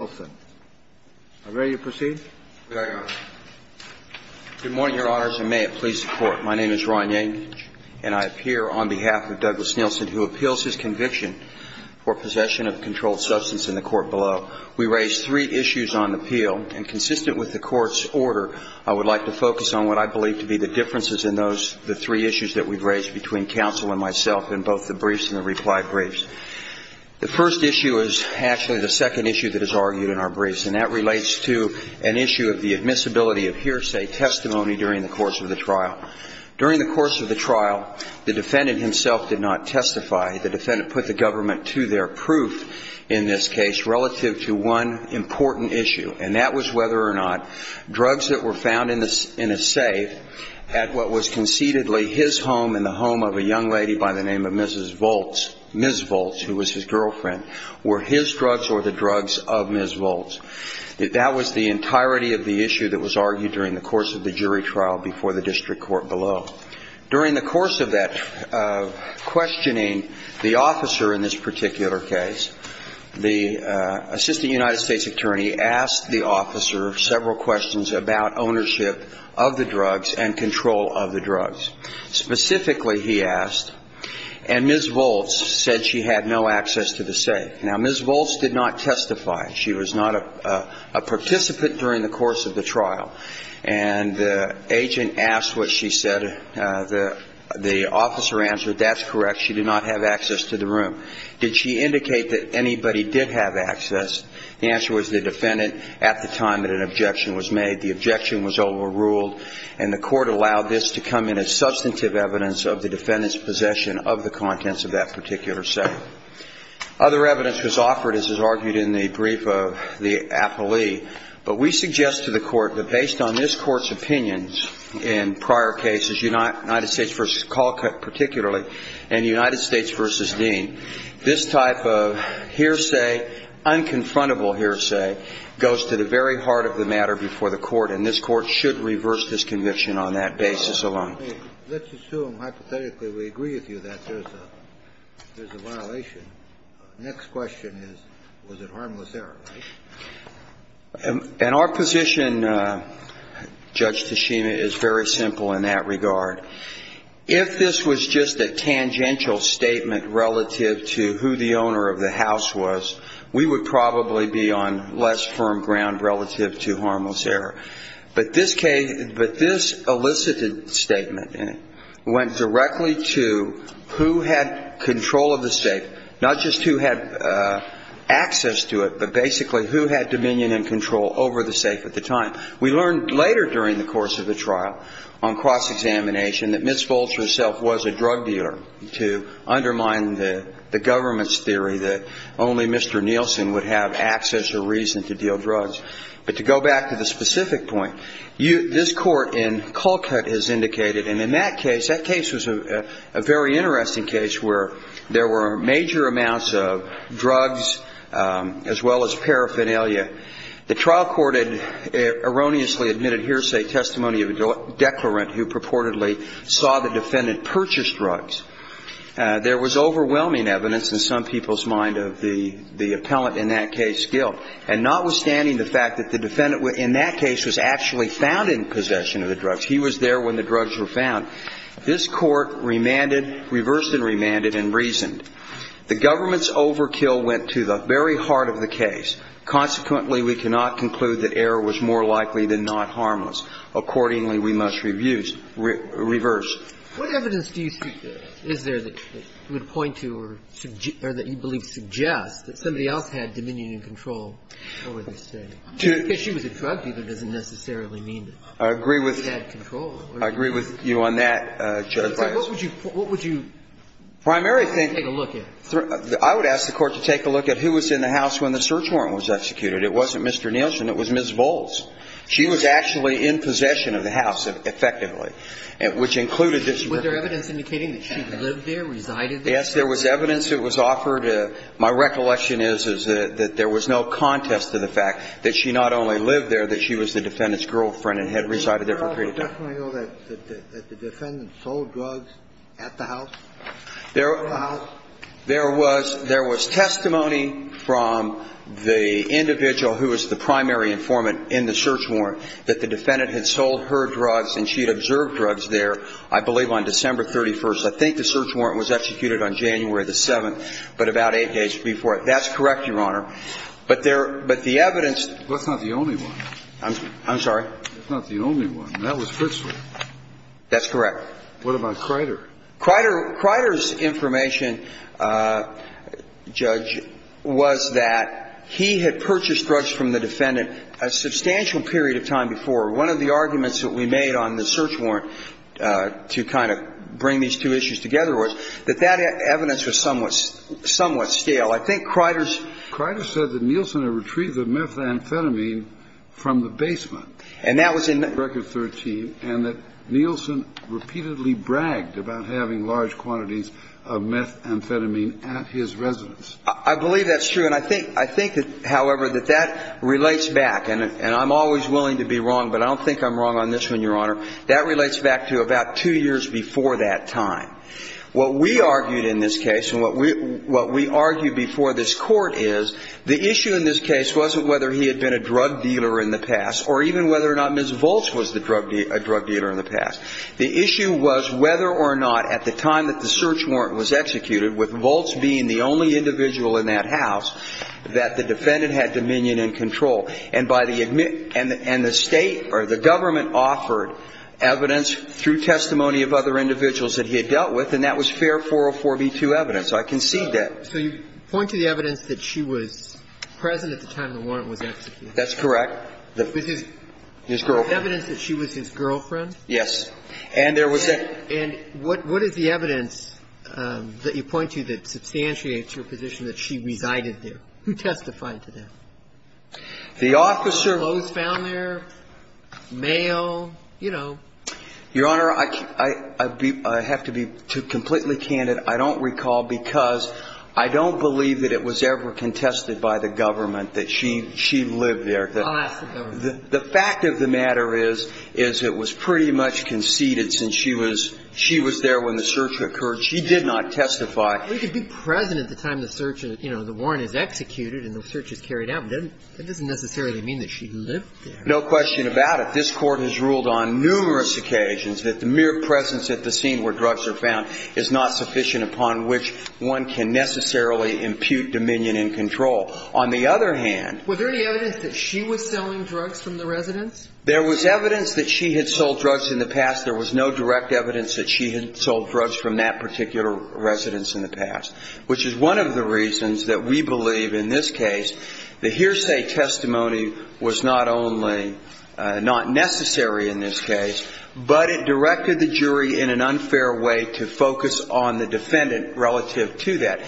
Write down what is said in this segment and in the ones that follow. I'm ready to proceed? Very good. Good morning, Your Honors, and may it please the Court. My name is Ron Yankich, and I appear on behalf of Douglas Nielsen, who appeals his conviction for possession of controlled substance in the court below. We raise three issues on appeal, and consistent with the Court's order, I would like to focus on what I believe to be the differences in those three issues that we've raised between counsel and myself in both the briefs and the reply briefs. The first issue is actually the second issue that is argued in our briefs, and that relates to an issue of the admissibility of hearsay testimony during the course of the trial. During the course of the trial, the defendant himself did not testify. The defendant put the government to their proof in this case relative to one important issue, and that was whether or not drugs that were found in a safe at what was concededly his home and the home of a young lady by the name of Mrs. Volz, Ms. Volz, who was his girlfriend, were his drugs or the drugs of Ms. Volz. That was the entirety of the issue that was argued during the course of the jury trial before the district court below. During the course of that questioning, the officer in this particular case, the assistant United States attorney, asked the officer several questions about ownership of the drugs and control of the drugs. Specifically, he asked, and Ms. Volz said she had no access to the safe. Now, Ms. Volz did not testify. She was not a participant during the course of the trial. And the agent asked what she said. The officer answered, that's correct, she did not have access to the room. Did she indicate that anybody did have access? The answer was the defendant at the time that an objection was made. The objection was overruled, and the court allowed this to come in as substantive evidence of the defendant's possession of the contents of that particular safe. Other evidence was offered, as is argued in the brief of the appellee, but we suggest to the court that based on this court's opinions in prior cases, United States v. Calcutt particularly, and United States v. Dean, this type of hearsay, unconfrontable hearsay, goes to the very heart of the matter before the court, and this court should reverse this conviction on that basis alone. Let's assume, hypothetically, we agree with you that there's a violation. Next question is, was it harmless error, right? And our position, Judge Tashima, is very simple in that regard. If this was just a tangential statement relative to who the owner of the house was, we would probably be on less firm ground relative to harmless error. But this case – but this elicited statement went directly to who had control of the safe, not just who had access to it, but basically who had dominion and control over the safe at the time. We learned later during the course of the trial on cross-examination that Ms. Folcher herself was a drug dealer to undermine the government's theory that only Mr. Nielsen would have access or reason to deal drugs. But to go back to the specific point, this court in Colcutt has indicated – and in that case, that case was a very interesting case where there were major amounts of drugs as well as paraphernalia. The trial court had erroneously admitted hearsay testimony of a declarant who purportedly saw the defendant purchase drugs. There was overwhelming evidence in some people's mind of the appellant in that case's guilt. And notwithstanding the fact that the defendant in that case was actually found in possession of the drugs – he was there when the drugs were found – this court remanded, reversed and remanded, and reasoned. The government's overkill went to the very heart of the case. Consequently, we cannot conclude that error was more likely than not harmless. Accordingly, we must reverse. What evidence is there that you would point to or that you believe suggests that somebody else had dominion and control over the state? Because she was a drug dealer doesn't necessarily mean that she had control. I agree with you on that, Judge Breyer. What would you take a look at? I would ask the Court to take a look at who was in the house when the search warrant was executed. It wasn't Mr. Nielsen. It was Ms. Volz. She was actually in possession of the house, effectively, which included that she was there. Was there evidence indicating that she lived there, resided there? Yes, there was evidence that was offered. My recollection is that there was no contest to the fact that she not only lived there, that she was the defendant's girlfriend and had resided there for a period of time. Did the defendant know that the defendant sold drugs at the house? There was testimony from the individual who was the primary informant in the search warrant that the defendant had sold her drugs and she had observed drugs there, I believe, on December 31st. I think the search warrant was executed on January 7th, but about eight days before it. That's correct, Your Honor. But the evidence – That's not the only one. I'm sorry? That's not the only one. That was Fritzford. That's correct. What about Crider? Crider's information, Judge, was that he had purchased drugs from the defendant a substantial period of time before. One of the arguments that we made on the search warrant to kind of bring these two issues together was that that evidence was somewhat stale. I think Crider's – Crider said that Nielsen had retrieved the methamphetamine from the basement. And that was in – And that Nielsen repeatedly bragged about having large quantities of methamphetamine at his residence. I believe that's true. And I think, however, that that relates back – and I'm always willing to be wrong, but I don't think I'm wrong on this one, Your Honor. That relates back to about two years before that time. What we argued in this case and what we argued before this Court is the issue in this case wasn't whether he had been a drug dealer in the past or even whether or not Ms. Volz was a drug dealer in the past. The issue was whether or not at the time that the search warrant was executed, with Volz being the only individual in that house, that the defendant had dominion and control. And by the – and the State or the government offered evidence through testimony of other individuals that he had dealt with, and that was fair 404b2 evidence. So I concede that. So you point to the evidence that she was present at the time the warrant was executed? That's correct. His girlfriend. Evidence that she was his girlfriend? Yes. And there was a – And what is the evidence that you point to that substantiates your position that she resided there? Who testified to that? The officer. Clothes found there, mail, you know. Your Honor, I have to be completely candid. I don't recall because I don't believe that it was ever contested by the government that she lived there. I'll ask the government. The fact of the matter is, is it was pretty much conceded since she was there when the search occurred. She did not testify. She could be present at the time the search – you know, the warrant is executed and the search is carried out, but that doesn't necessarily mean that she lived there. No question about it. This Court has ruled on numerous occasions that the mere presence at the scene where drugs are found is not sufficient upon which one can necessarily impute dominion and control. On the other hand – Was there any evidence that she was selling drugs from the residence? There was evidence that she had sold drugs in the past. There was no direct evidence that she had sold drugs from that particular residence in the past. Which is one of the reasons that we believe in this case the hearsay testimony was not only not necessary in this case, but it directed the jury in an unfair way to focus on the defendant relative to that.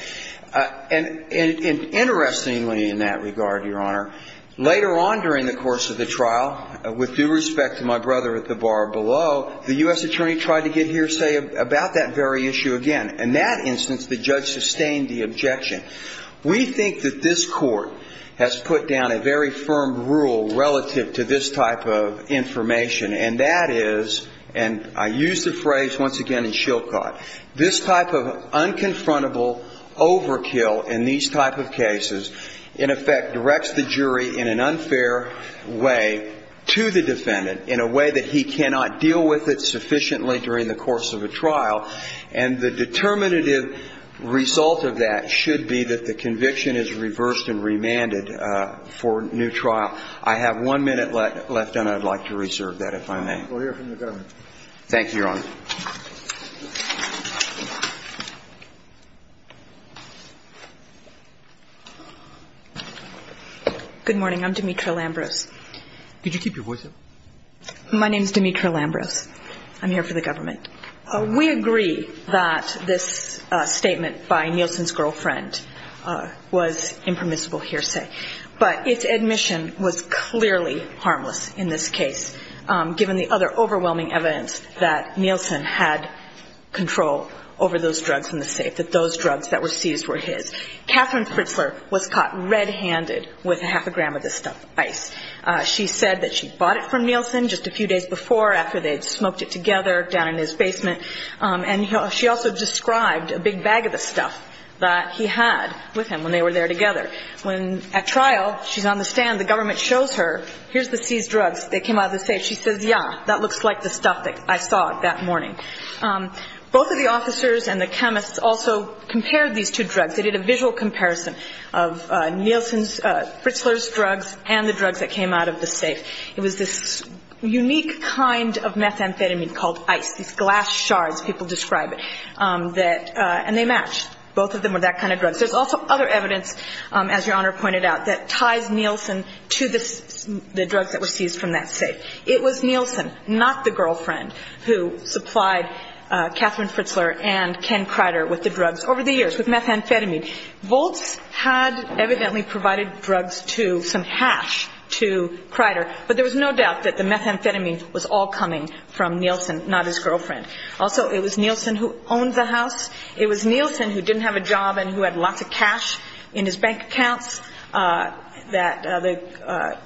And interestingly in that regard, Your Honor, later on during the course of the trial, with due respect to my brother at the bar below, the U.S. attorney tried to get hearsay about that very issue again. In that instance, the judge sustained the objection. We think that this Court has put down a very firm rule relative to this type of information. And that is – and I use the phrase once again in Shilcott – this type of unconfrontable overkill in these type of cases in effect directs the jury in an unfair way to the defendant in a way that he cannot deal with it sufficiently during the course of a trial. And the determinative result of that should be that the conviction is reversed and remanded for new trial. I have one minute left and I'd like to reserve that if I may. We'll hear from the government. Thank you, Your Honor. Good morning. I'm Demetra Lambros. Could you keep your voice up? My name is Demetra Lambros. I'm here for the government. We agree that this statement by Nielsen's girlfriend was impermissible hearsay. But its admission was clearly harmless in this case, given the other overwhelming evidence that Nielsen had control over those drugs in the safe, that those drugs that were seized were his. Katherine Fritzler was caught red-handed with half a gram of this stuff, ice. She said that she bought it from Nielsen just a few days before, after they'd smoked it together down in his basement. And she also described a big bag of the stuff that he had with him when they were there together. When at trial, she's on the stand, the government shows her, here's the seized drugs that came out of the safe. She says, yeah, that looks like the stuff that I saw that morning. Both of the officers and the chemists also compared these two drugs. They did a visual comparison of Nielsen's, Fritzler's drugs and the drugs that came out of the safe. It was this unique kind of methamphetamine called ice, these glass shards, people describe it. And they matched. Both of them were that kind of drug. There's also other evidence, as Your Honor pointed out, that ties Nielsen to the drugs that were seized from that safe. It was Nielsen, not the girlfriend, who supplied Catherine Fritzler and Ken Kreider with the drugs over the years, with methamphetamine. Voltz had evidently provided drugs to some hash to Kreider, but there was no doubt that the methamphetamine was all coming from Nielsen, not his girlfriend. Also, it was Nielsen who owned the house. It was Nielsen who didn't have a job and who had lots of cash in his bank accounts, that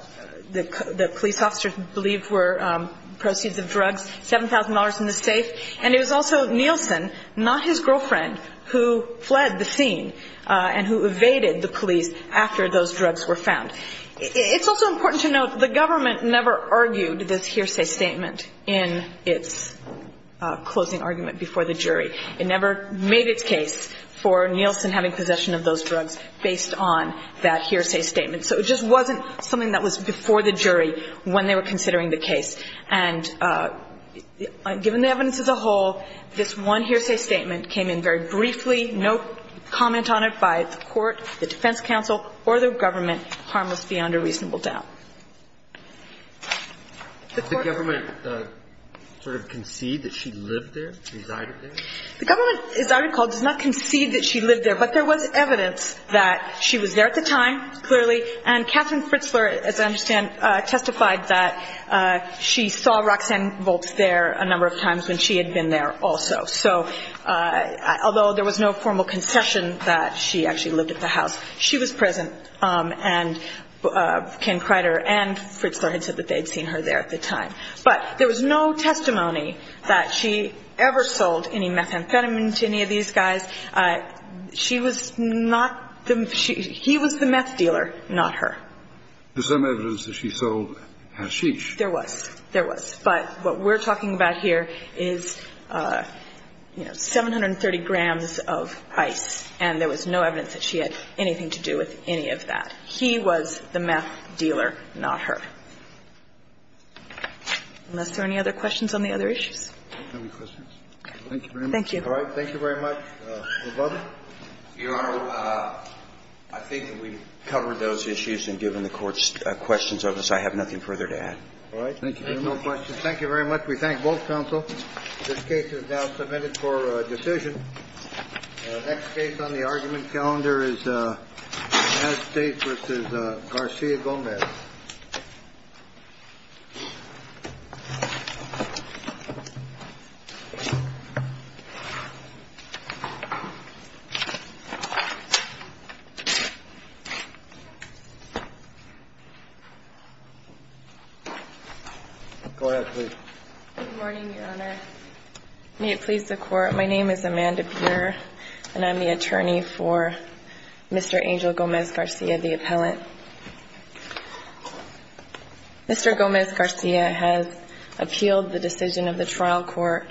the police officer believed were proceeds of drugs, $7,000 in the safe. And it was also Nielsen, not his girlfriend, who fled the scene and who evaded the police after those drugs were found. It's also important to note the government never argued this hearsay statement in its closing argument before the jury. It never made its case for Nielsen having possession of those drugs based on that hearsay statement. So it just wasn't something that was before the jury when they were considering the case. And given the evidence as a whole, this one hearsay statement came in very briefly, no comment on it by the court, the defense counsel or the government, harmless beyond a reasonable doubt. The government sort of conceded that she lived there, resided there? The government, as I recall, does not concede that she lived there, but there was evidence that she was there at the time, clearly. And Catherine Fritzler, as I understand, testified that she saw Roxanne Volz there a number of times when she had been there also. So although there was no formal concession that she actually lived at the house, she was present. And Ken Crider and Fritzler had said that they had seen her there at the time. But there was no testimony that she ever sold any methamphetamine to any of these guys. She was not the – he was the meth dealer, not her. There's some evidence that she sold hashish. There was. There was. But what we're talking about here is, you know, 730 grams of ice, and there was no evidence that she had anything to do with any of that. He was the meth dealer, not her. Unless there are any other questions on the other issues? Thank you very much. Thank you. All right. Thank you very much. Your Honor, I think that we've covered those issues, and given the Court's questions of us, I have nothing further to add. All right. Thank you. There are no questions. Thank you very much. We thank both counsel. This case is now submitted for decision. The next case on the argument calendar is Nass State v. Garcia Gomez. Go ahead, please. Good morning, Your Honor. May it please the Court. My name is Amanda Beer, and I'm the attorney for Mr. Angel Gomez-Garcia, the appellant. Mr. Gomez-Garcia has appealed the decision of the trial court,